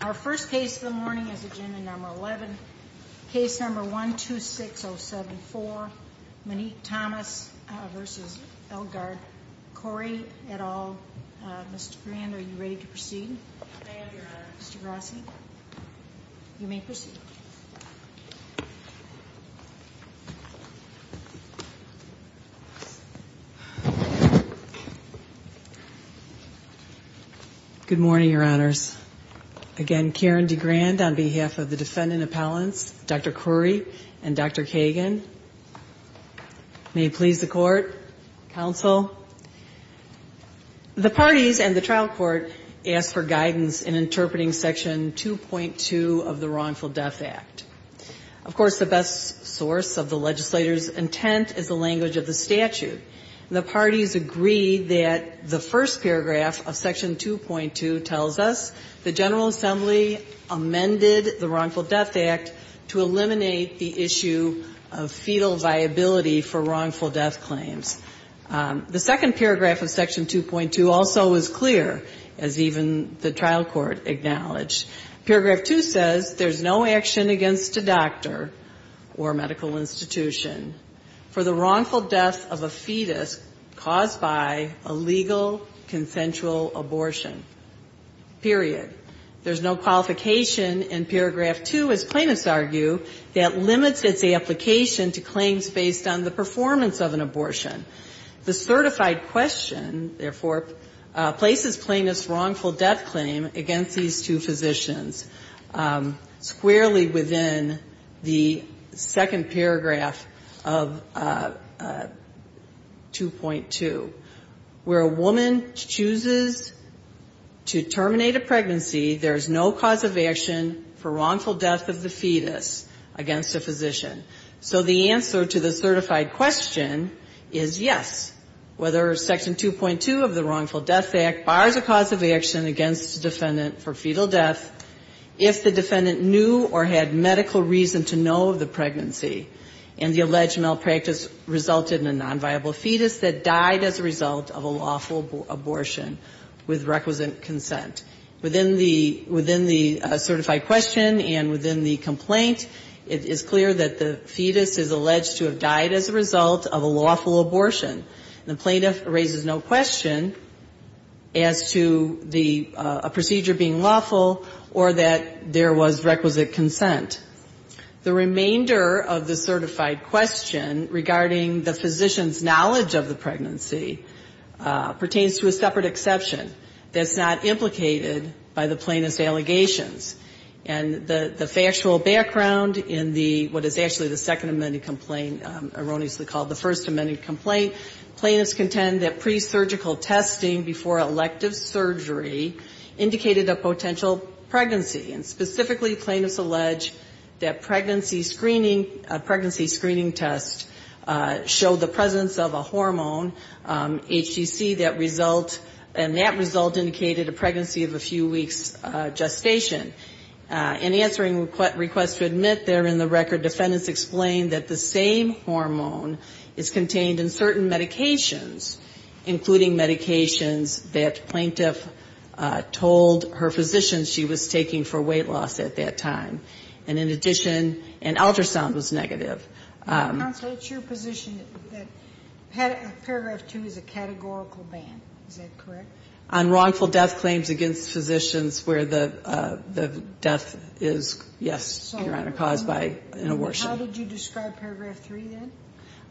Our first case of the morning is agenda number 11, case number 126074, Monique Thomas v. Elgar, Khoury, et al. Mr. Grand, are you ready to proceed? I am, Your Honor. Mr. Grassi, you may proceed. Good morning, Your Honors. Again, Karen DeGrand on behalf of the defendant appellants, Dr. Khoury and Dr. Kagan. May it please the Court, Counsel. The parties and the trial court asked for guidance in interpreting Section 2.2 of the Wrongful Death Act. Of course, the best source of the legislator's intent is the language of the statute. And the parties agree that the first paragraph of Section 2.2 tells us the General Assembly amended the Wrongful Death Act to eliminate the issue of fetal viability for wrongful death claims. The second paragraph of Section 2.2 also is clear, as even the trial court acknowledged. Paragraph 2 says there's no action against a doctor or medical institution for the wrongful death of a fetus caused by illegal consensual abortion, period. There's no qualification in paragraph 2, as plaintiffs argue, that limits its application to claims based on the performance of an abortion. The certified question, therefore, places plaintiffs' wrongful death claim against these two physicians squarely within the second paragraph of 2.2, where a woman chooses to terminate a pregnancy there is no cause of action for wrongful death of the fetus against a physician. So the answer to the certified question is yes, whether Section 2.2 of the Wrongful Death Act bars a cause of action against a defendant for fetal death if the defendant knew or had medical reason to know of the pregnancy and the alleged malpractice resulted in a nonviable fetus that died as a result of a lawful abortion with requisite consent. Within the certified question and within the complaint, it is clear that the fetus is alleged to have died as a result of a lawful abortion. And the plaintiff raises no question as to the procedure being lawful or that there was requisite consent. The remainder of the certified question regarding the physician's knowledge of the pregnancy pertains to a separate exception that's not implicated by the plaintiff's allegations. And the factual background in what is actually the second amended complaint, erroneously called the first amended complaint, plaintiffs contend that presurgical testing before elective surgery indicated a potential pregnancy. And specifically, plaintiffs allege that pregnancy screening tests show the presence of a hormone, HDC, that result, and that result indicated a pregnancy of a few weeks' gestation. In answering requests to admit therein the record, defendants explain that the same hormone is contained in certain medications, including medications that plaintiff told her physician she was taking for weight loss at that time. And in addition, an ultrasound was negative. Counsel, it's your position that Paragraph 2 is a categorical ban. Is that correct? On wrongful death claims against physicians where the death is, yes, you're on a cause by an abortion. How did you describe Paragraph 3, then?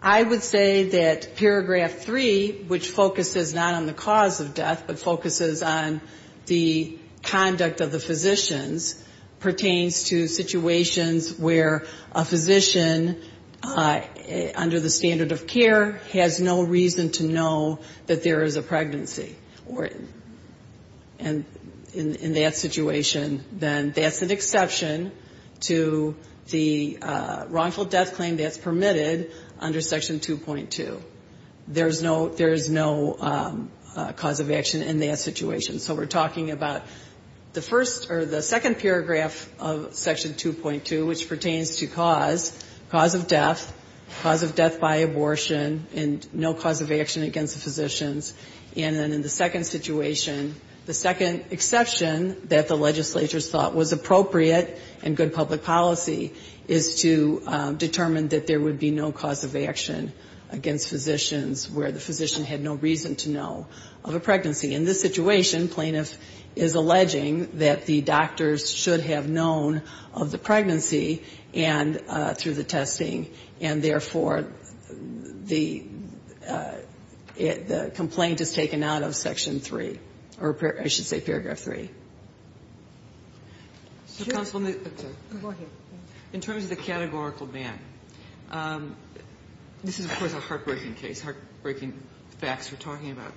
I would say that Paragraph 3, which focuses not on the cause of death, but focuses on the conduct of the physicians, pertains to situations where a physician under the standard of care has no reason to know that there is a pregnancy. And in that situation, then, that's an exception to the wrongful death claim that's permitted under Section 2.2. There is no cause of action in that situation. So we're talking about the first or the second paragraph of Section 2.2, which pertains to cause, cause of death, cause of death by abortion, and no cause of action against the physicians. And then in the second situation, the second exception that the legislatures thought was appropriate and good public policy is to determine that there would be no cause of action against physicians where the physician had no reason to know of a pregnancy. In this situation, plaintiff is alleging that the doctors should have known of the pregnancy and through the testing, and therefore, the complaint is taken out of Section 3, or I should say Paragraph 3. In terms of the categorical ban, this is, of course, a heartbreaking case, heartbreaking facts we're talking about.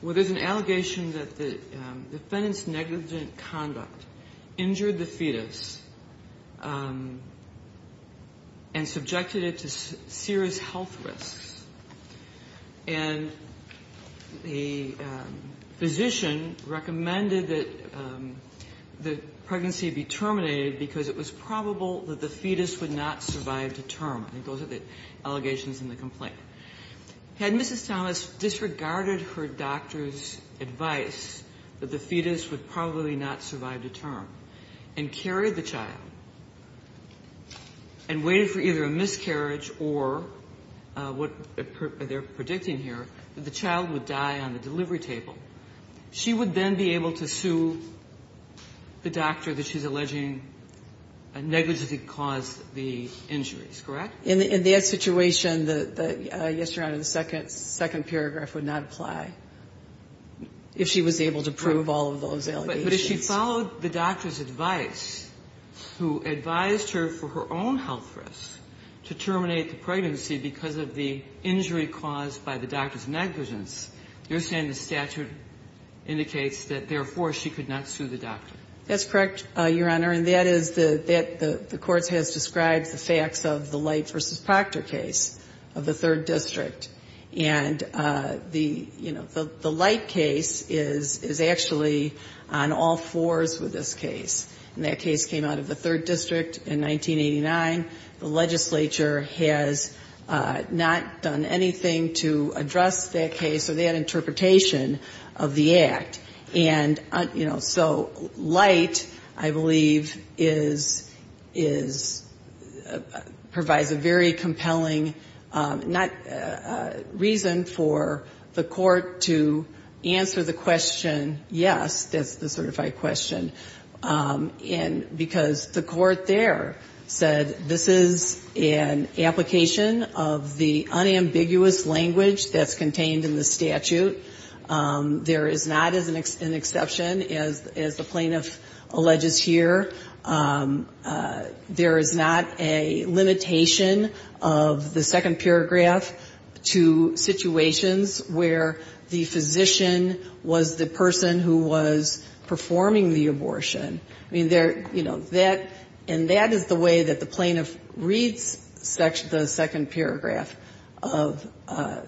Well, there's an allegation that the defendant's negligent conduct injured the fetus and subjected it to serious health risks. And the physician recommended that the pregnancy be terminated because it was probable that the fetus would not survive to term. Had Mrs. Thomas disregarded her doctor's advice that the fetus would probably not survive to term and carried the child and waited for either a miscarriage or what they're predicting here, that the child would die on the delivery table, she would then be able to sue the doctor that she's alleging negligently caused the injuries, correct? In that situation, yes, Your Honor, the second paragraph would not apply, if she was able to prove all of those allegations. But if she followed the doctor's advice, who advised her for her own health risks to terminate the pregnancy because of the injury caused by the doctor's negligence, you're saying the statute indicates that, therefore, she could not sue the doctor? That's correct, Your Honor. And that is the court has described the facts of the Light v. Proctor case of the Third District. And the, you know, the Light case is actually on all fours with this case. And that case came out of the Third District in 1989. The legislature has not done anything to address that case or that interpretation of the act. And, you know, so Light, I believe, is, provides a very compelling reason for the court to answer the question, yes, that's the certified question. And because the court there said this is an application of the unambiguous language that's contained in the statute. There is not an exception, as the plaintiff alleges here. There is not a limitation of the second paragraph to situations where the physician was the person who was performing the abortion. I mean, there, you know, that, and that is the way that the plaintiff reads the second paragraph of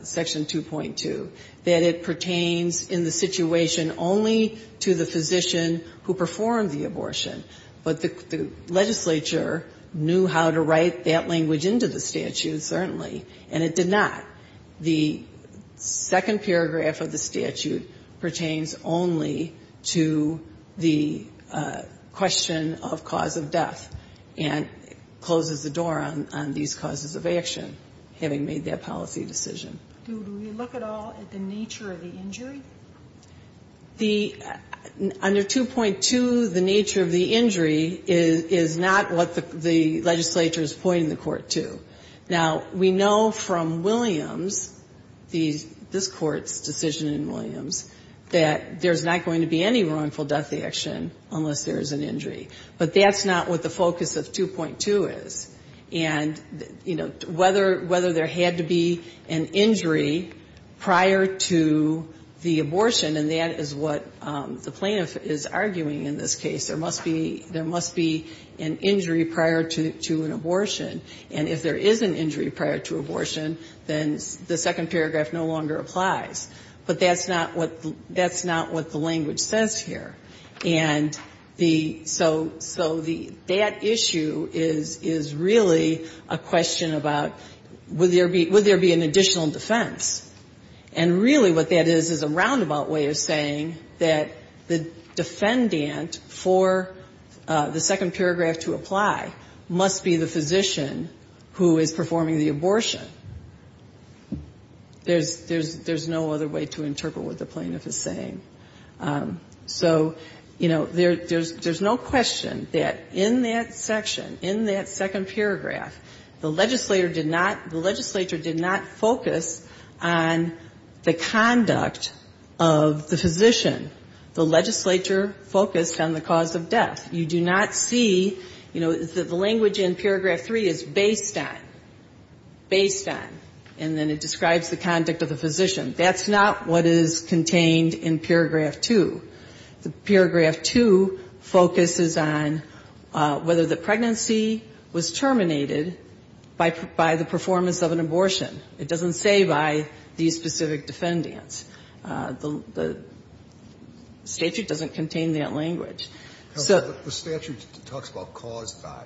Section 2.2. That it pertains in the situation only to the physician who performed the abortion. But the legislature knew how to write that language into the statute, certainly. And it did not. The second paragraph of the statute pertains only to the question of cause of death and closes the door on these causes of action, having made that policy decision. Do we look at all at the nature of the injury? The, under 2.2, the nature of the injury is not what the legislature is pointing the court to. Now, we know from Williams, this Court's decision in Williams, that there's not going to be any wrongful death action unless there is an injury. But that's not what the focus of 2.2 is. And, you know, whether there had to be an injury prior to the abortion, and that is what the plaintiff is arguing in this case. There must be an injury prior to an abortion. And if there is an injury prior to abortion, then the second paragraph no longer applies. But that's not what the language says here. And the, so that issue is really a question about would there be an additional defense? And really what that is, is a roundabout way of saying that the defendant for the second paragraph to apply must be the physician who is performing the abortion. There's no other way to interpret what the plaintiff is saying. So, you know, there's no question that in that section, in that second paragraph, the legislature did not focus on the conduct of the physician. The legislature focused on the cause of death. You do not see, you know, the language in paragraph 3 is based on, based on, and then it describes the conduct of the physician. That's not what is contained in paragraph 2. Paragraph 2 focuses on whether the pregnancy was terminated by the performance of an abortion. It doesn't say by these specific defendants. The statute doesn't contain that language. So the statute talks about caused by,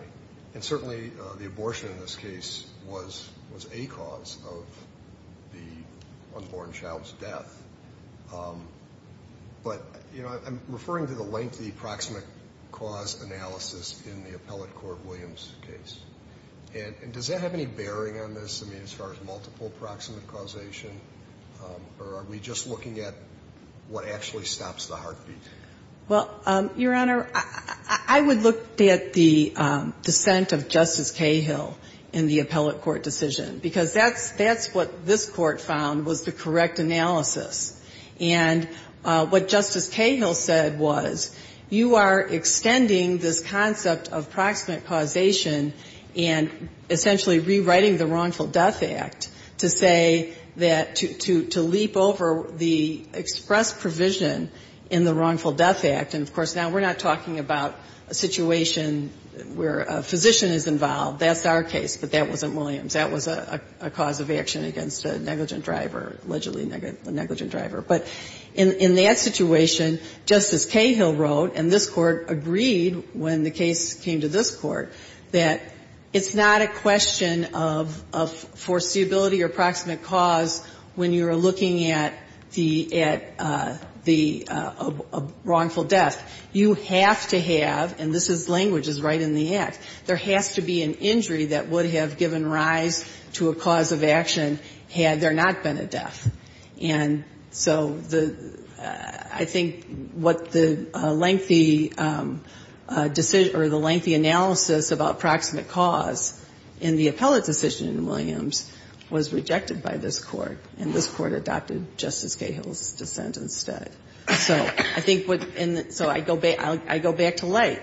and certainly the abortion in this case was a cause of the unborn child's death. But, you know, I'm referring to the lengthy proximate cause analysis in the appellate court Williams case. And does that have any bearing on this, I mean, as far as multiple proximate causation, or are we just looking at what actually stops the heartbeat? Well, Your Honor, I would look at the dissent of Justice Cahill in the appellate court decision, because that's what this Court found was the correct analysis. And what Justice Cahill said was you are extending this concept of proximate causation and essentially rewriting the Wrongful Death Act to say that, to leap over the express provision in the Wrongful Death Act. And, of course, now we're not talking about a situation where a physician is involved. That's our case, but that wasn't Williams. That was a cause of action against a negligent driver, allegedly negligent driver. But in that situation, Justice Cahill wrote, and this Court agreed when the case came to this Court, that it's not a question of foreseeability or proximate cause when you're looking at the at the wrongful death. You have to have, and this language is right in the act, there has to be an injury that would have given rise to a cause of action had there not been a death. And so I think what the lengthy decision or the lengthy analysis about proximate cause in the appellate decision in Williams was rejected by this Court, and this Court adopted Justice Cahill's dissent instead. So I think what, so I go back to Light,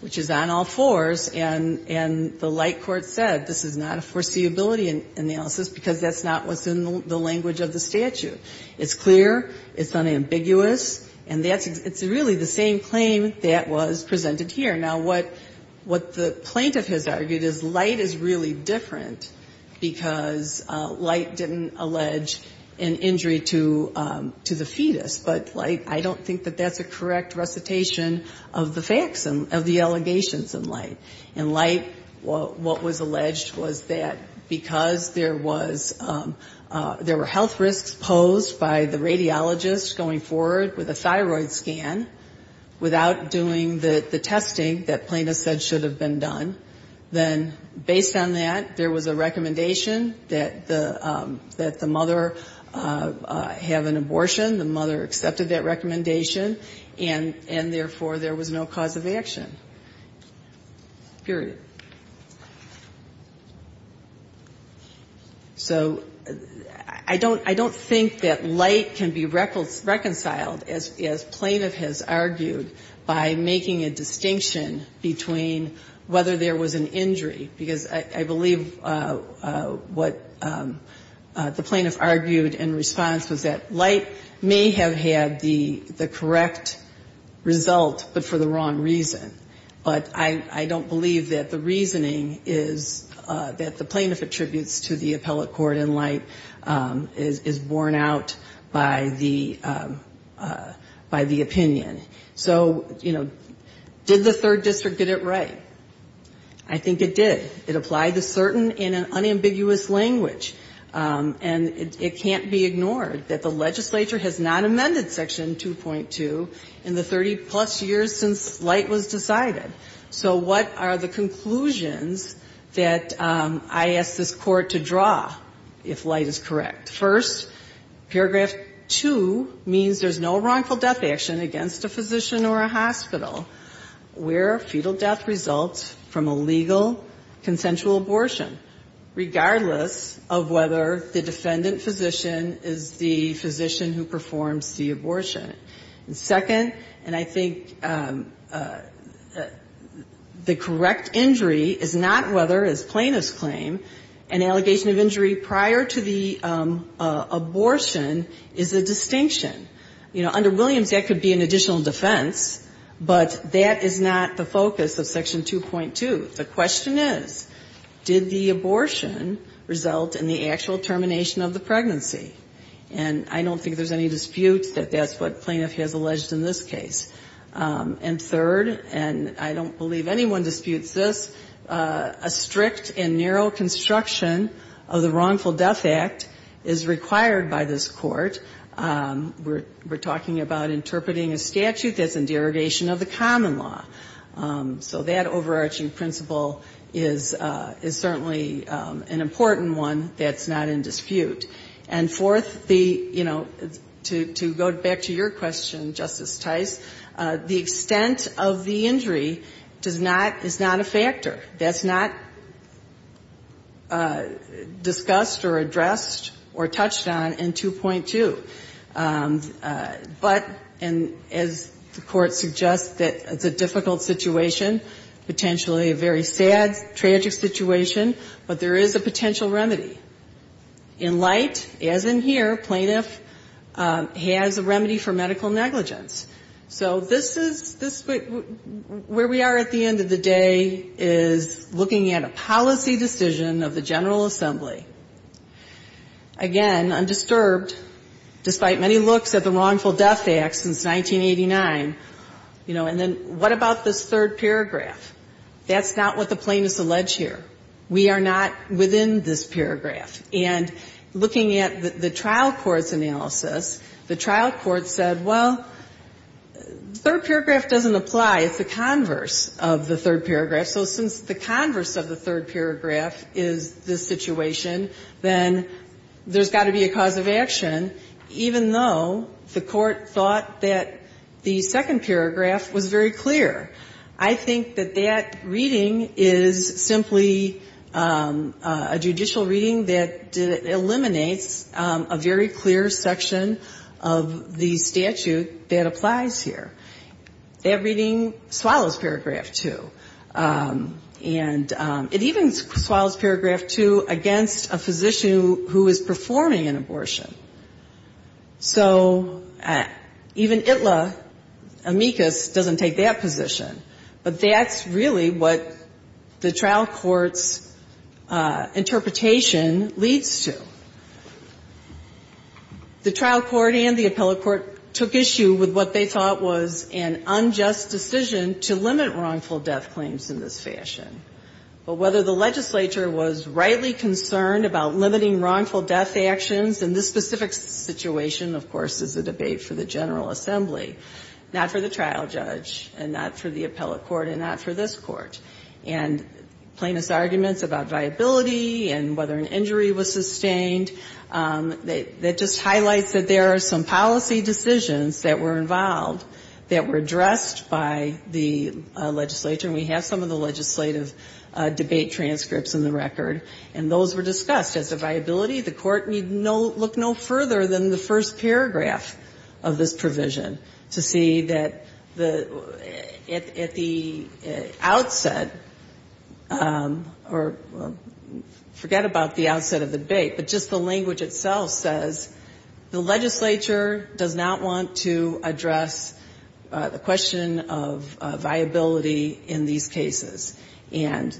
which is on all fours, and the Light court said this is not a foreseeability analysis because that's not what's in the language of the statute. It's clear. It's unambiguous. And that's, it's really the same claim that was presented here. Now, what the plaintiff has argued is Light is really different because Light didn't allege an injury to the fetus. But Light, I don't think that that's a correct recitation of the facts of the allegations in Light. In Light, what was alleged was that because there was, there were health risks posed by the radiologist going forward with a thyroid scan without doing the testing that plaintiff said should have been done, then based on that, there was a recommendation that the mother have an abortion, the mother accepted that recommendation, and therefore there was no cause of action, period. So I don't think that Light can be reconciled, as plaintiff has argued, by making a distinction between whether there was an injury, because I believe what the plaintiff argued in response was that Light may have had the correct result, but for the wrong reason. But I don't believe that the reasoning is that the plaintiff attributes to the appellate court in Light is borne out by the opinion. So, you know, did the third district get it right? I think it did. It applied to certain in an unambiguous language, and it can't be ignored that the legislature has not amended Section 2.2 in the 30-plus years since Light was decided. So what are the conclusions that I ask this court to draw if Light is correct? First, paragraph 2 means there's no wrongful death action against a physician or a hospital where a fetal death results from a legal consensual abortion, regardless of whether the defendant physician is the physician who performs the abortion. And second, and I think the correct injury is not whether, as plaintiffs claim, an allegation of injury prior to the abortion is a distinction. You know, under Williams, that could be an additional defense, but that is not the focus of Section 2.2. The question is, did the abortion result in the actual termination of the pregnancy? And I don't think there's any dispute that that's what plaintiff has alleged in this case. And third, and I don't believe anyone disputes this, a strict and narrow construction of the Wrongful Death Act is required by this court. We're talking about interpreting a statute that's in derogation of the common law. So that overarching principle is certainly an important one that's not in dispute. And fourth, the, you know, to go back to your question, Justice Tice, the extent of the injury does not, is not a factor. That's not discussed or addressed or touched on in 2.2. But, and as the Court suggests, that it's a difficult situation, potentially a very sad, tragic situation, but there is a potential remedy. In light, as in here, plaintiff has a remedy for medical negligence. So this is, this, where we are at the end of the day is looking at a policy decision of the General Assembly. Again, undisturbed, despite many looks at the Wrongful Death Act since 1989, you know, and then what about this third paragraph? That's not what the plaintiffs allege here. We are not within this paragraph. And looking at the trial court's analysis, the trial court said, well, third paragraph doesn't apply. It's the converse of the third paragraph. So since the converse of the third paragraph is this situation, then there's got to be a cause of action, even though the Court thought that the second paragraph was very clear. I think that that reading is simply a judicial reading that eliminates a very clear section of the statute that applies here. That reading swallows paragraph two. And it even swallows paragraph two against a physician who is performing an abortion. So even ITLA, amicus, doesn't take that position. But that's really what the trial court's interpretation leads to. The trial court and the appellate court took issue with what they thought was an unjust decision to limit wrongful death claims in this fashion. But whether the legislature was rightly concerned about limiting wrongful death actions in this specific situation, of course, is a debate for the General Assembly, not for the trial judge, and not for the appellate court, and not for this court. And plaintiff's arguments about viability and whether an injury was sustained, that just highlights that there are some policy decisions that were involved that were addressed by the legislature. And we have some of the legislative debate transcripts in the record. And those were discussed as a viability. The court looked no further than the first paragraph of this provision to see that at the outset, or forget about the outset of the debate, but just the language itself says the legislature does not want to address the question of viability in these cases. And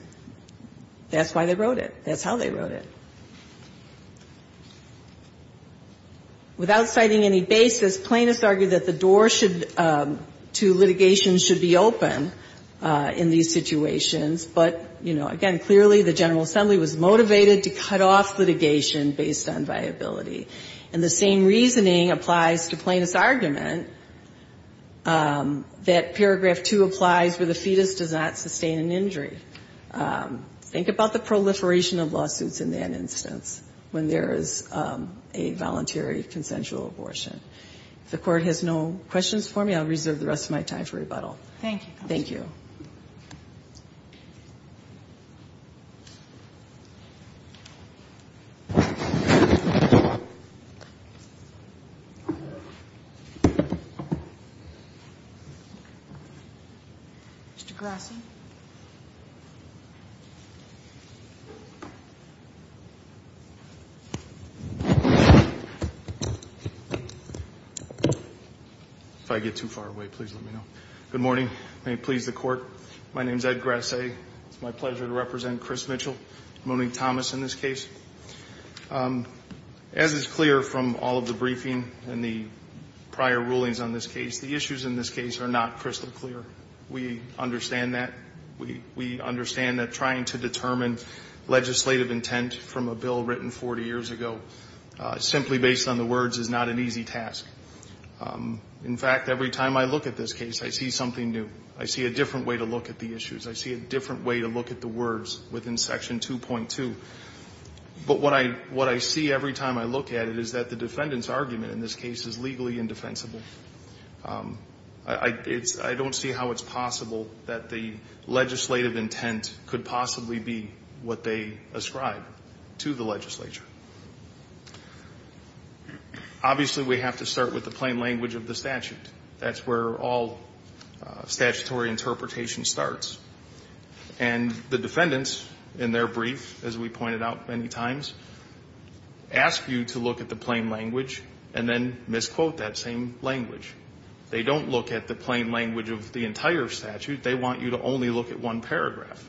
that's why they wrote it. That's how they wrote it. Without citing any basis, plaintiffs argued that the door to litigation should be open in these situations. But, you know, again, clearly the General Assembly was motivated to cut off litigation based on viability. And the same reasoning applies to plaintiff's argument that paragraph 2 applies where the fetus does not sustain an injury. Think about the proliferation of lawsuits in that instance when there is a voluntary consensual abortion. If the Court has no questions for me, I'll reserve the rest of my time for rebuttal. Thank you. Thank you. Mr. Grassi. If I get too far away, please let me know. Good morning. May it please the Court. My name is Ed Grassi. It's my pleasure to represent Chris Mitchell, Monique Thomas in this case. As is clear from all of the briefing and the prior rulings on this case, the issues in this case are not crystal clear. We understand that. We understand that trying to determine legislative intent from a bill written 40 years ago simply based on the words is not an easy task. In fact, every time I look at this case, I see something new. I see a different way to look at the issues. I see a different way to look at the words within Section 2.2. But what I see every time I look at it is that the defendant's argument in this case is legally indefensible. I don't see how it's possible that the legislative intent could possibly be what they ascribe to the legislature. Obviously, we have to start with the plain language of the statute. That's where all statutory interpretation starts. And the defendants in their brief, as we pointed out many times, ask you to look at the plain language. They don't look at the plain language of the entire statute. They want you to only look at one paragraph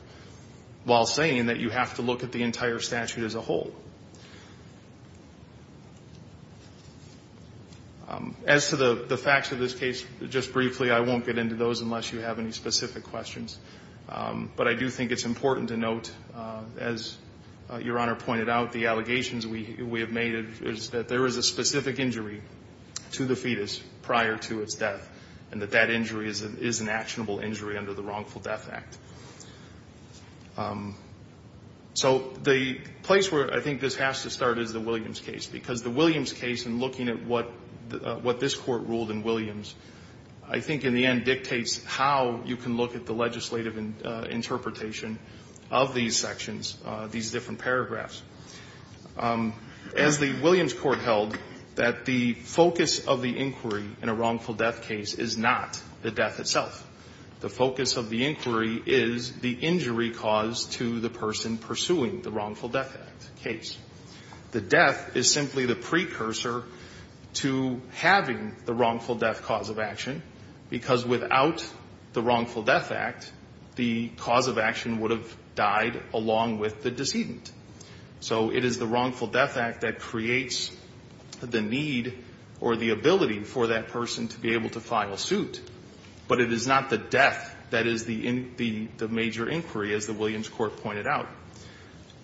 while saying that you have to look at the entire statute as a whole. As to the facts of this case, just briefly, I won't get into those unless you have any specific questions. But I do think it's important to note, as Your Honor pointed out, the allegations we have made is that there is a specific injury to the fetus prior to its death, and that that injury is an actionable injury under the Wrongful Death Act. So the place where I think this has to start is the Williams case, because the Williams case, in looking at what this Court ruled in Williams, I think in the end dictates how you can look at the legislative interpretation of these sections, these different paragraphs. As the Williams Court held, that the focus of the inquiry in a wrongful death case is not the death itself. The focus of the inquiry is the injury cause to the person pursuing the Wrongful Death Act case. The death is simply the precursor to having the wrongful death cause of action, because without the Wrongful Death Act, the cause of action would have died along with the decedent. So it is the Wrongful Death Act that creates the need or the ability for that person to be able to file suit. But it is not the death that is the major inquiry, as the Williams Court pointed out.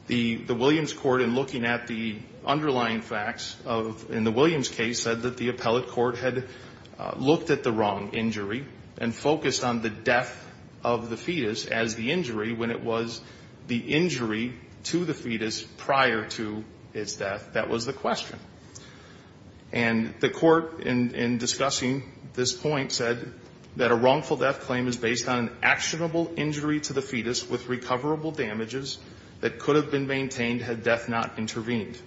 The Williams Court, in looking at the underlying facts in the Williams case, said that the appellate court had looked at the wrong injury and focused on the death of the fetus prior to his death. That was the question. And the Court, in discussing this point, said that a wrongful death claim is based on an actionable injury to the fetus with recoverable damages that could have been maintained had death not intervened.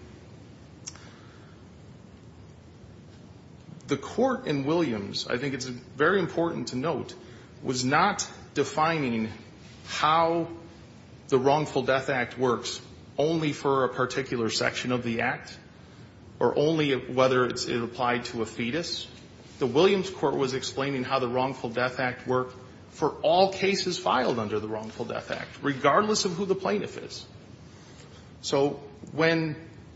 The Court in Williams, I think it's very important to note, was not defining how the Wrongful Death Act works only for a particular section of the act, or only whether it's applied to a fetus. The Williams Court was explaining how the Wrongful Death Act worked for all cases filed under the Wrongful Death Act, regardless of who the plaintiff is. So when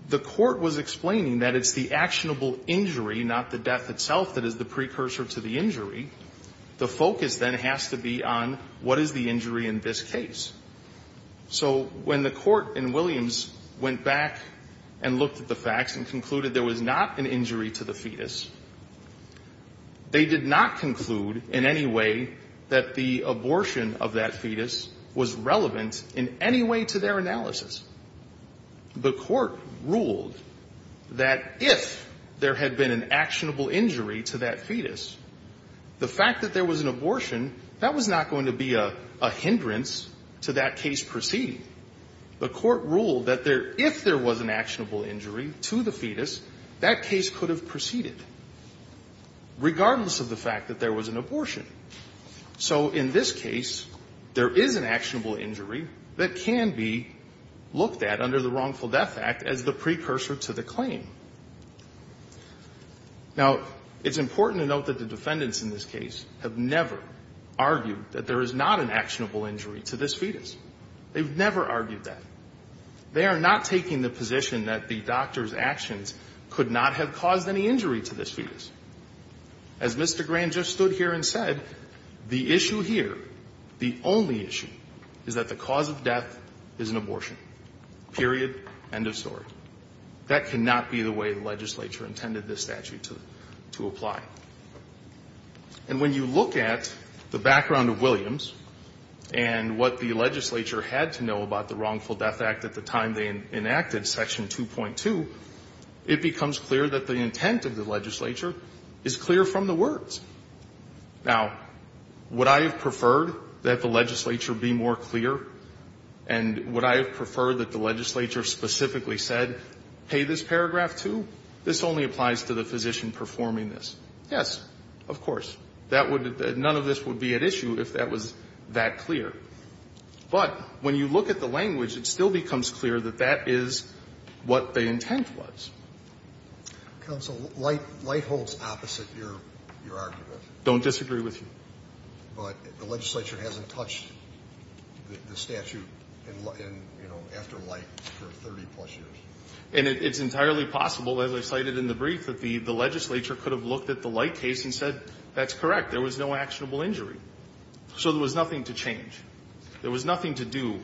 the Court was explaining that it's the actionable injury, not the death itself, that is the precursor to the injury, the focus then has to be on what is the injury in this case. So when the Court in Williams went back and looked at the facts and concluded there was not an injury to the fetus, they did not conclude in any way that the abortion of that fetus was relevant in any way to their analysis. The Court ruled that if there had been an actionable injury to that fetus, the fact that there was an abortion, that was not going to be a hindrance to that case proceeding. The Court ruled that if there was an actionable injury to the fetus, that case could have proceeded, regardless of the fact that there was an abortion. So in this case, there is an actionable injury that can be looked at under the Wrongful Death Act as the precursor to the claim. Now, it's important to note that the defendants in this case have never argued that there is not an actionable injury to this fetus. They've never argued that. They are not taking the position that the doctor's actions could not have caused any injury to this fetus. As Mr. Grant just stood here and said, the issue here, the only issue, is that the cause of death is an abortion, period, end of story. That cannot be the way the legislature intended this statute to apply. And when you look at the background of Williams and what the legislature had to know about the Wrongful Death Act at the time they enacted section 2.2, it becomes clear that the intent of the legislature is clear from the words. Now, would I have preferred that the legislature be more clear? And would I have preferred that the legislature specifically said, hey, this paragraph 2, this only applies to the physician performing this? Yes, of course. That would be the – none of this would be at issue if that was that clear. But when you look at the language, it still becomes clear that that is what the intent Counsel, light holds opposite your argument. I don't disagree with you. But the legislature hasn't touched the statute after light for 30-plus years. And it's entirely possible, as I cited in the brief, that the legislature could have looked at the light case and said, that's correct, there was no actionable injury. So there was nothing to change. There was nothing to do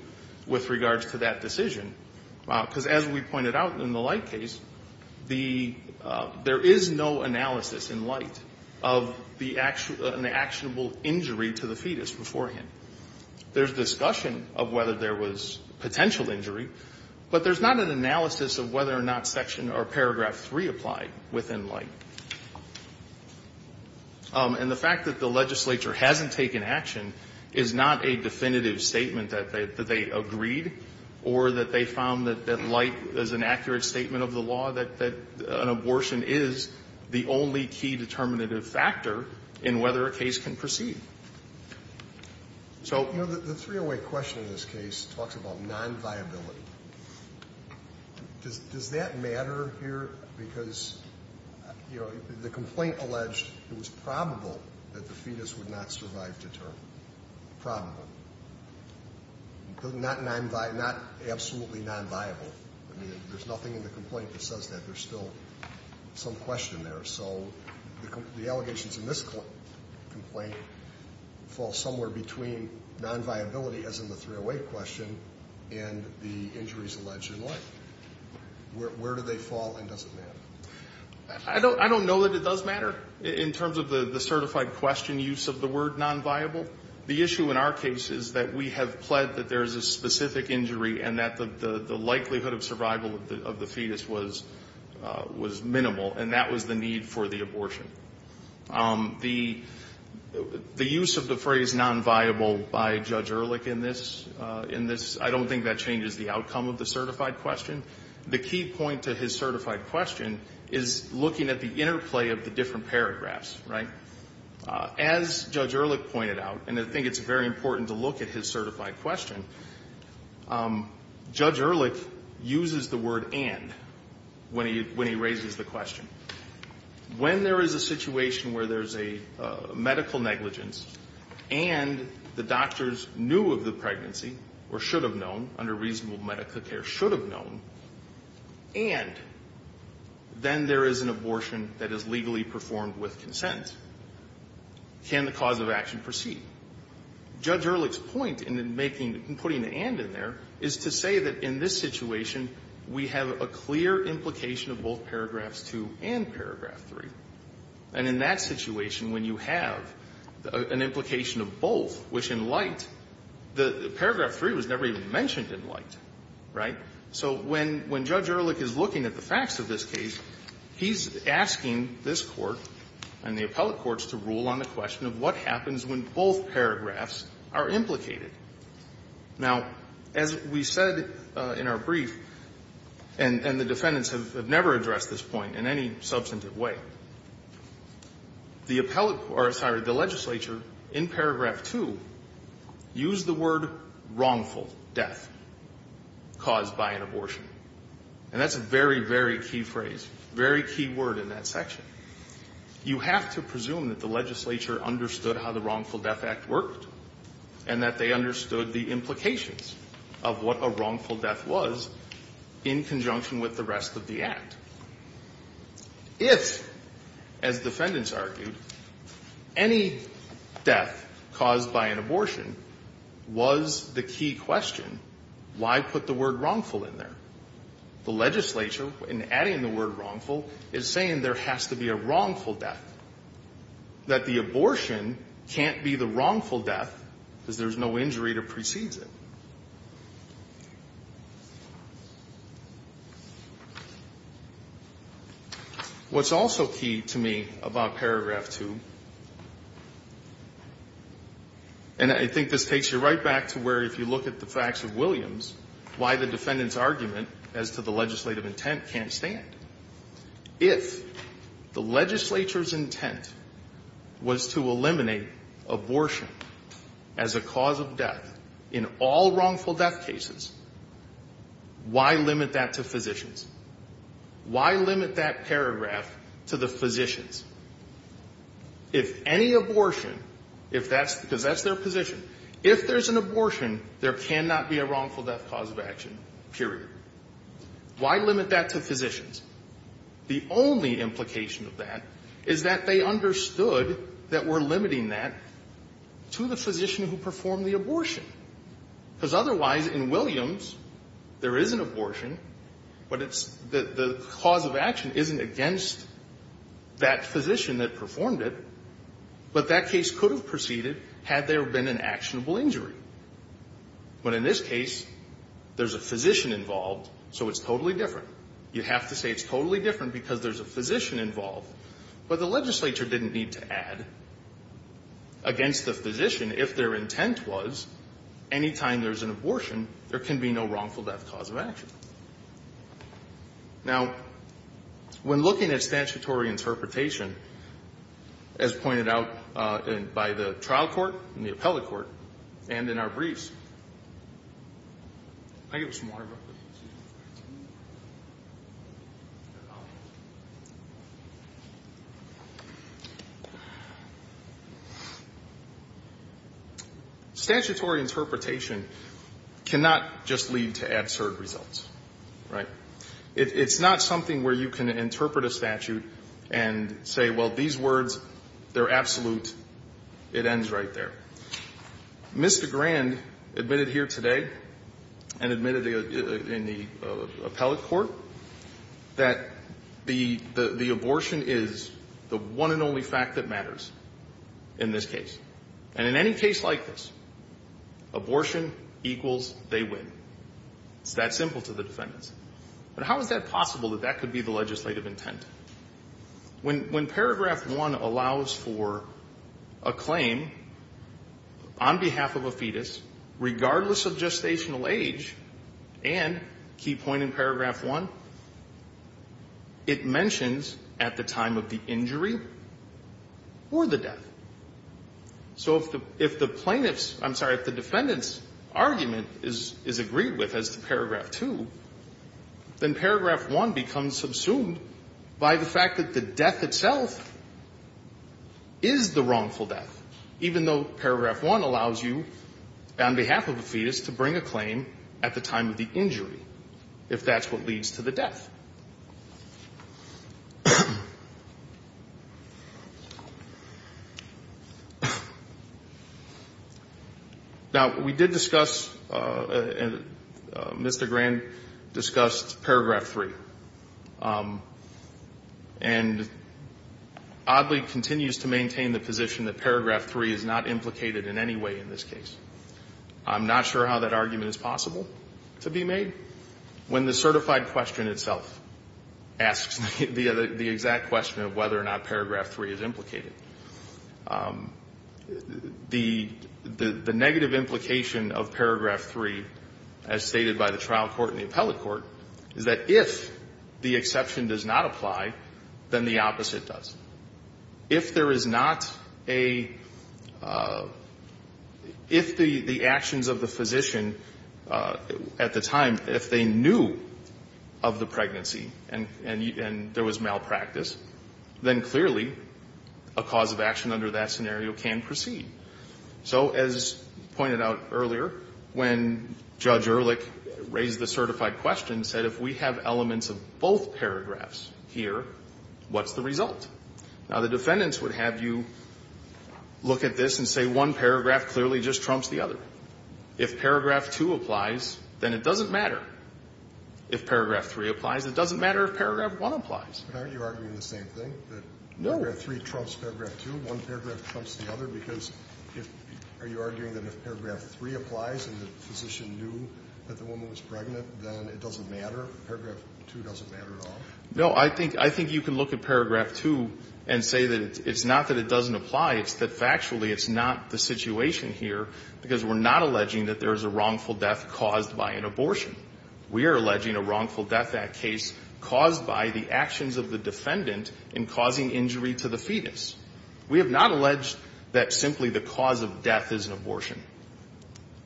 with regards to that decision. Because as we pointed out in the light case, the – there is no analysis in light of the actionable injury to the fetus beforehand. There's discussion of whether there was potential injury, but there's not an analysis of whether or not section or paragraph 3 applied within light. And the fact that the legislature hasn't taken action is not a definitive statement that they agreed or that they found that light is an accurate statement of the law, that an abortion is the only key determinative factor in whether a case can proceed. So the three-way question in this case talks about nonviability. Does that matter here? Because, you know, the complaint alleged it was probable that the fetus would not survive to term. Probable. Not absolutely nonviable. I mean, there's nothing in the complaint that says that. There's still some question there. So the allegations in this complaint fall somewhere between nonviability, as in the three-way question, and the injuries alleged in light. Where do they fall and does it matter? I don't know that it does matter in terms of the certified question use of the word nonviable. The issue in our case is that we have pled that there is a specific injury and that the likelihood of survival of the fetus was minimal, and that was the need for the abortion. The use of the phrase nonviable by Judge Ehrlich in this, I don't think that changes the outcome of the certified question. The key point to his certified question is looking at the interplay of the different paragraphs, right? As Judge Ehrlich pointed out, and I think it's very important to look at his certified question, Judge Ehrlich uses the word and when he raises the question. When there is a situation where there's a medical negligence and the doctors knew of the pregnancy or should have known, under reasonable medical care should have known, and then there is an abortion that is legally performed with consent, can the cause of action proceed? Judge Ehrlich's point in making, in putting the and in there, is to say that in this situation, we have a clear implication of both paragraphs 2 and paragraph 3. And in that situation, when you have an implication of both, which in light, the paragraph 3 was never even mentioned in light, right? So when Judge Ehrlich is looking at the facts of this case, he's asking this Court and the appellate courts to rule on the question of what happens when both paragraphs are implicated. Now, as we said in our brief, and the defendants have never addressed this point in any substantive way. The appellate or, sorry, the legislature in paragraph 2 used the word wrongful death caused by an abortion. And that's a very, very key phrase, very key word in that section. You have to presume that the legislature understood how the Wrongful Death Act worked and that they understood the implications of what a wrongful death was in conjunction with the rest of the Act. If, as defendants argued, any death caused by an abortion was the key question, why put the word wrongful in there? The legislature, in adding the word wrongful, is saying there has to be a wrongful death, that the abortion can't be the wrongful death because there's no injury that precedes it. What's also key to me about paragraph 2, and I think this takes you right back to where if you look at the facts of Williams, why the defendant's argument as to the legislative intent can't stand. If the legislature's intent was to eliminate abortion as a cause of death in all rights of all wrongful death cases, why limit that to physicians? Why limit that paragraph to the physicians? If any abortion, if that's because that's their position, if there's an abortion, there cannot be a wrongful death cause of action, period. Why limit that to physicians? The only implication of that is that they understood that we're limiting that to the physicians, because otherwise, in Williams, there is an abortion, but it's the cause of action isn't against that physician that performed it, but that case could have proceeded had there been an actionable injury. But in this case, there's a physician involved, so it's totally different. You have to say it's totally different because there's a physician involved. But the legislature didn't need to add against the physician if their intent was anytime there's an abortion, there can be no wrongful death cause of action. Now, when looking at statutory interpretation, as pointed out by the trial court and the appellate court and in our briefs, I'll give you some water. Statutory interpretation cannot just lead to absurd results, right? It's not something where you can interpret a statute and say, well, these words, they're absolute, it ends right there. Mr. Grand admitted here today and admitted in the appellate court that the abortion is the one and only fact that matters in this case. And in any case like this, abortion equals they win. It's that simple to the defendants. But how is that possible that that could be the legislative intent? When paragraph 1 allows for a claim on behalf of a fetus, regardless of gestational age, and key point in paragraph 1, it mentions at the time of the injury or the death. So if the plaintiffs – I'm sorry, if the defendant's argument is agreed with as to paragraph 2, then paragraph 1 becomes subsumed by the fact that the death itself is the wrongful death, even though paragraph 1 allows you, on behalf of a fetus, to bring a claim at the time of the injury, if that's what leads to the death. Now, we did discuss, and Mr. Grand discussed paragraph 3, and oddly continues to maintain the position that paragraph 3 is not implicated in any way in this case. I'm not sure how that argument is possible to be made. When the certified question itself asks the exact question of whether or not paragraph 3 is implicated, the negative implication of paragraph 3, as stated by the trial court and the appellate court, is that if the exception does not apply, then the opposite does. If there is not a – if the actions of the physician at the time, at the time of the pregnancy, and there was malpractice, then clearly a cause of action under that scenario can proceed. So as pointed out earlier, when Judge Ehrlich raised the certified question, said if we have elements of both paragraphs here, what's the result? Now, the defendants would have you look at this and say one paragraph clearly just trumps the other. If paragraph 2 applies, then it doesn't matter. If paragraph 3 applies, it doesn't matter if paragraph 1 applies. But aren't you arguing the same thing? No. That paragraph 3 trumps paragraph 2, one paragraph trumps the other, because if – are you arguing that if paragraph 3 applies and the physician knew that the woman was pregnant, then it doesn't matter, paragraph 2 doesn't matter at all? No. I think you can look at paragraph 2 and say that it's not that it doesn't apply. It's that factually it's not the situation here, because we're not alleging that there is a wrongful death caused by an abortion. We are alleging a Wrongful Death Act case caused by the actions of the defendant in causing injury to the fetus. We have not alleged that simply the cause of death is an abortion.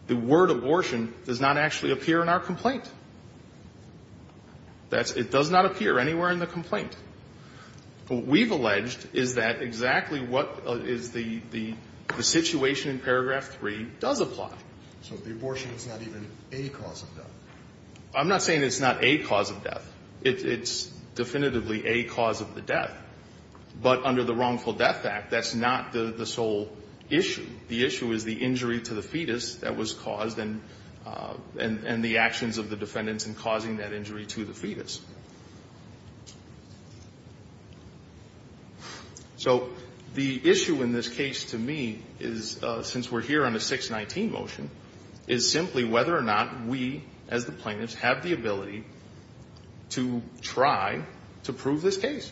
The word abortion does not actually appear in our complaint. That's – it does not appear anywhere in the complaint. What we've alleged is that exactly what is the situation in paragraph 3 does apply. So the abortion is not even a cause of death? I'm not saying it's not a cause of death. It's definitively a cause of the death. But under the Wrongful Death Act, that's not the sole issue. The issue is the injury to the fetus that was caused and the actions of the defendants in causing that injury to the fetus. So the issue in this case to me is, since we're here on a 619 motion, is simply whether or not we, as the plaintiffs, have the ability to try to prove this case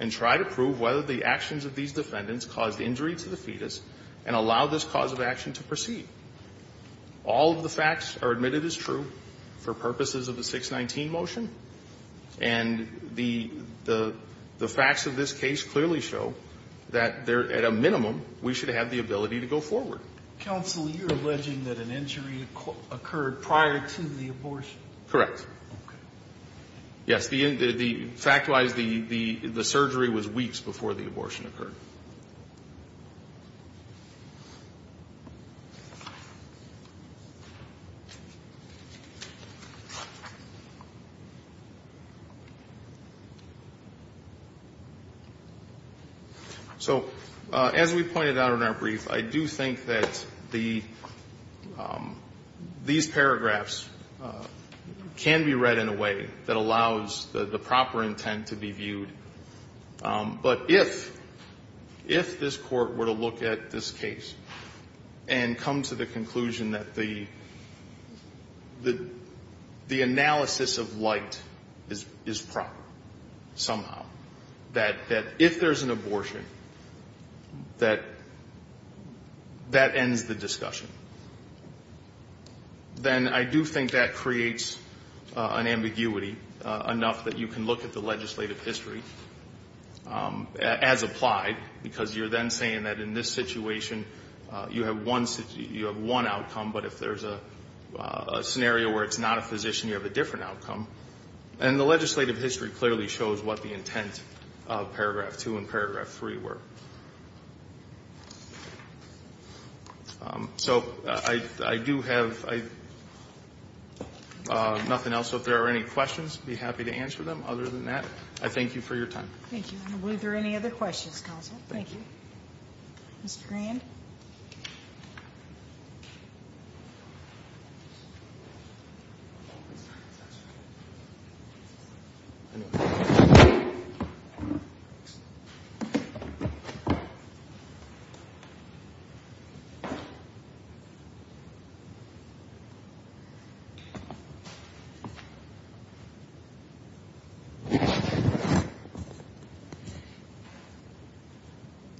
and try to prove whether the actions of these defendants caused injury to the fetus and allow this cause of action to proceed. All of the facts are admitted as true for purposes of the 619 motion. And the facts of this case clearly show that at a minimum, we should have the ability to go forward. Counsel, you're alleging that an injury occurred prior to the abortion? Correct. Okay. Yes, fact-wise, the surgery was weeks before the abortion occurred. So as we pointed out in our brief, I do think that these paragraphs can be read in a way that allows the proper intent to be viewed. But if this Court were to look at this case and come to the conclusion that the analysis of light is proper somehow, that if there's an abortion, that that ends the discussion, then I do think that creates an ambiguity enough that you can look at the legislative history. As applied, because you're then saying that in this situation, you have one outcome, but if there's a scenario where it's not a physician, you have a different outcome. And the legislative history clearly shows what the intent of paragraph two and paragraph three were. So I do have nothing else. So if there are any questions, I'd be happy to answer them. Other than that, I thank you for your time. Thank you. Were there any other questions, Counsel? Thank you. Mr. Grand?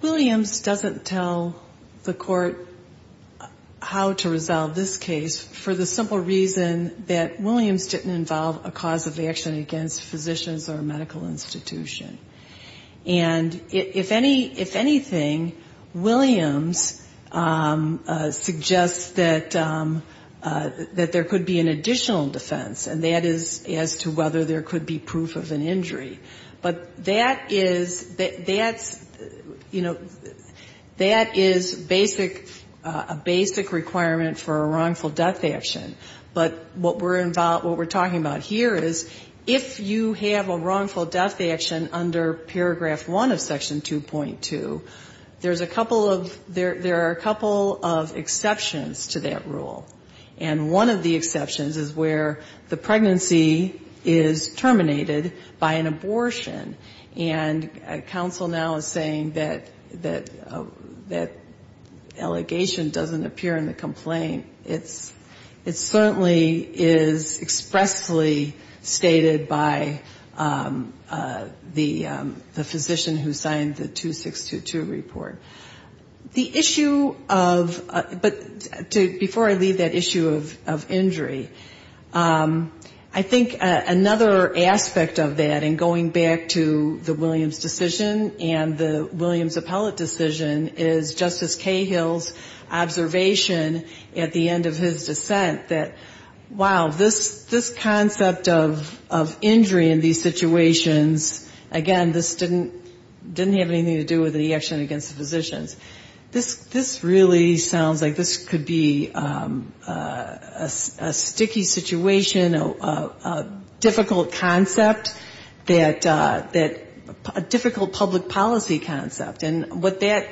Williams doesn't tell the Court how to resolve this case for the simple reason that Williams didn't involve a cause of action against physicians or a medical institution. And if anything, Williams suggests that there could be an additional defense, and that is as to whether there could be proof of an injury. But that is, you know, that is basic, a basic requirement for a wrongful death action. But what we're talking about here is if you have a wrongful death action under paragraph one of section 2.2, there's a couple of exceptions to that rule. And one of the exceptions is where the pregnancy is terminated by an abortion. And counsel now is saying that that allegation doesn't appear in the complaint. It certainly is expressly stated by the physician who signed the 2622 report. The issue of, but before I leave that issue of injury, I think another aspect of that, and going back to the Williams decision and the Williams appellate decision, is Justice Cahill's observation at the end of his dissent that, wow, this concept of injury in these situations, again, this didn't have anything to do with the action against physicians. This really sounds like this could be a sticky situation, a difficult concept, a difficult public policy concept. And what that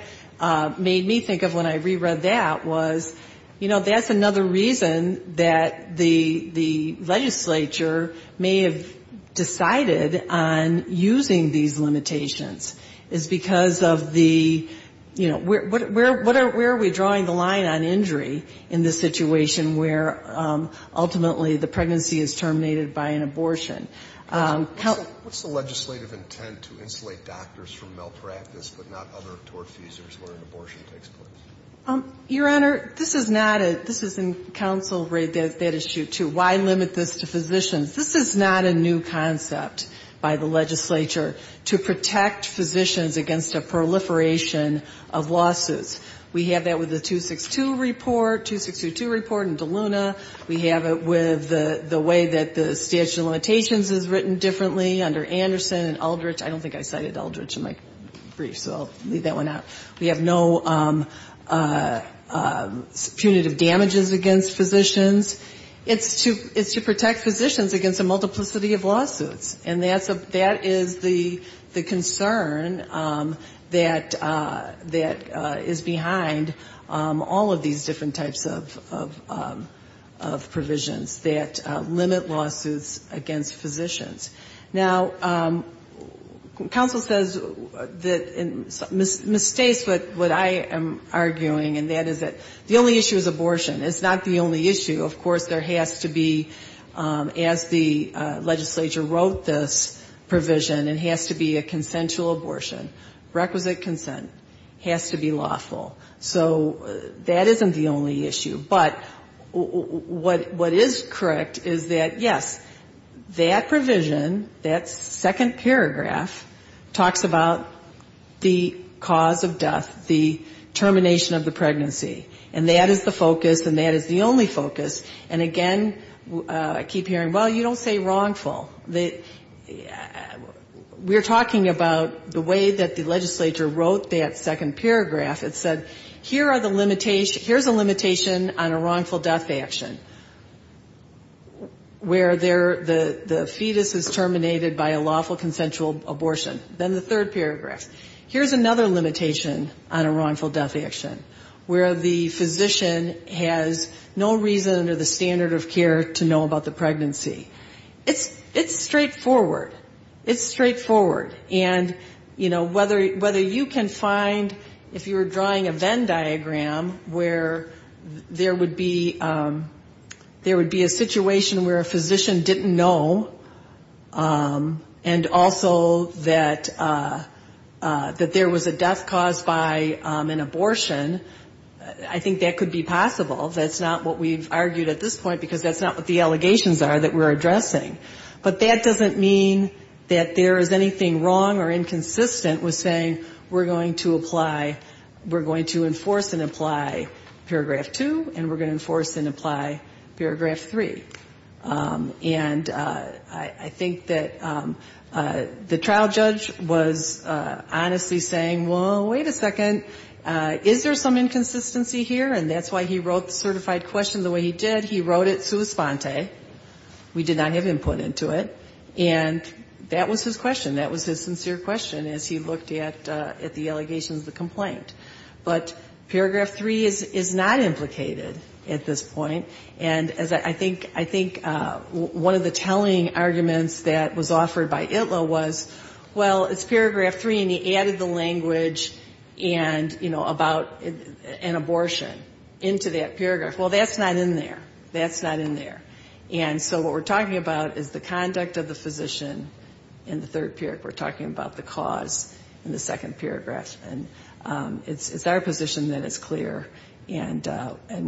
made me think of when I re-read that was, you know, that's another reason that the legislature may have decided on using these limitations. Is because of the, you know, where are we drawing the line on injury in this situation where ultimately the pregnancy is terminated by an abortion? What's the legislative intent to insulate doctors from malpractice but not other tort feasors where an abortion takes place? Your Honor, this is not a, this is in counsel read that issue too. Why limit this to physicians? This is not a new concept by the legislature to protect physicians against a proliferation of losses. We have that with the 262 report, 2622 report in DeLuna. We have it with the way that the statute of limitations is written differently under Anderson and Aldrich. I don't think I cited Aldrich in my brief, so I'll leave that one out. We have no punitive damages against physicians. It's to protect physicians against a multiplicity of lawsuits. And that is the concern that is behind all of these different types of provisions that limit lawsuits against physicians. Now, counsel says, misstates what I am arguing, and that is that the only issue is abortion. It's not the only issue. Of course, there has to be, as the legislature wrote this provision, it has to be a consensual abortion, requisite consent, has to be lawful. So that isn't the only issue. But what is correct is that, yes, that provision, that second paragraph, talks about the cause of death, the termination of the pregnancy. And that is the focus, and that is the only focus. And again, I keep hearing, well, you don't say wrongful. We're talking about the way that the legislature wrote that second paragraph. It said, here's a limitation on a wrongful death action, where the fetus is terminated by a lawful consensual abortion. Then the third paragraph. Here's another limitation on a wrongful death action, where the physician has no reason under the standard of care to know about the pregnancy. It's straightforward. It's straightforward. And, you know, whether you can find, if you were drawing a Venn diagram, where there would be a situation where a physician didn't know, and also that there was a death caused by an abortion, I think that could be possible. That's not what we've argued at this point, because that's not what the allegations are that we're addressing. But that doesn't mean that there is anything wrong or inconsistent with saying, we're going to apply, we're going to enforce and apply paragraph two, and we're going to enforce and apply paragraph three. And I think that the trial judge was honestly saying, well, wait a second, is there some inconsistency here? And that's why he wrote the certified question the way he did. He wrote it sua sponte. We did not have input into it. And that was his question. That was his sincere question as he looked at the allegations of the complaint. But paragraph three is not implicated at this point. And I think one of the telling arguments that was offered by Itlow was, well, it's paragraph three, and he added the language and, you know, about an abortion into that paragraph. Well, that's not in there. That's not in there. And so what we're talking about is the conduct of the physician in the third period. We're talking about the cause in the second paragraph. And it's our position that it's clear. And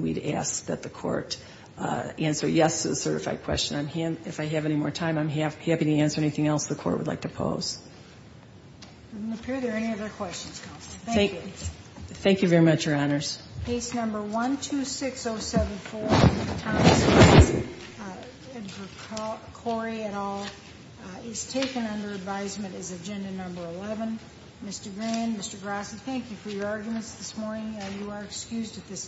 we'd ask that the court answer yes to the certified question. If I have any more time, I'm happy to answer anything else the court would like to pose. It doesn't appear there are any other questions, Counselor. Thank you. Thank you very much, Your Honors. Case number 126074, Thomas Gross, and for Corey et al., is taken under advisement as agenda number 11. Mr. Green, Mr. Gross, thank you for your arguments this morning. You are excused at this time.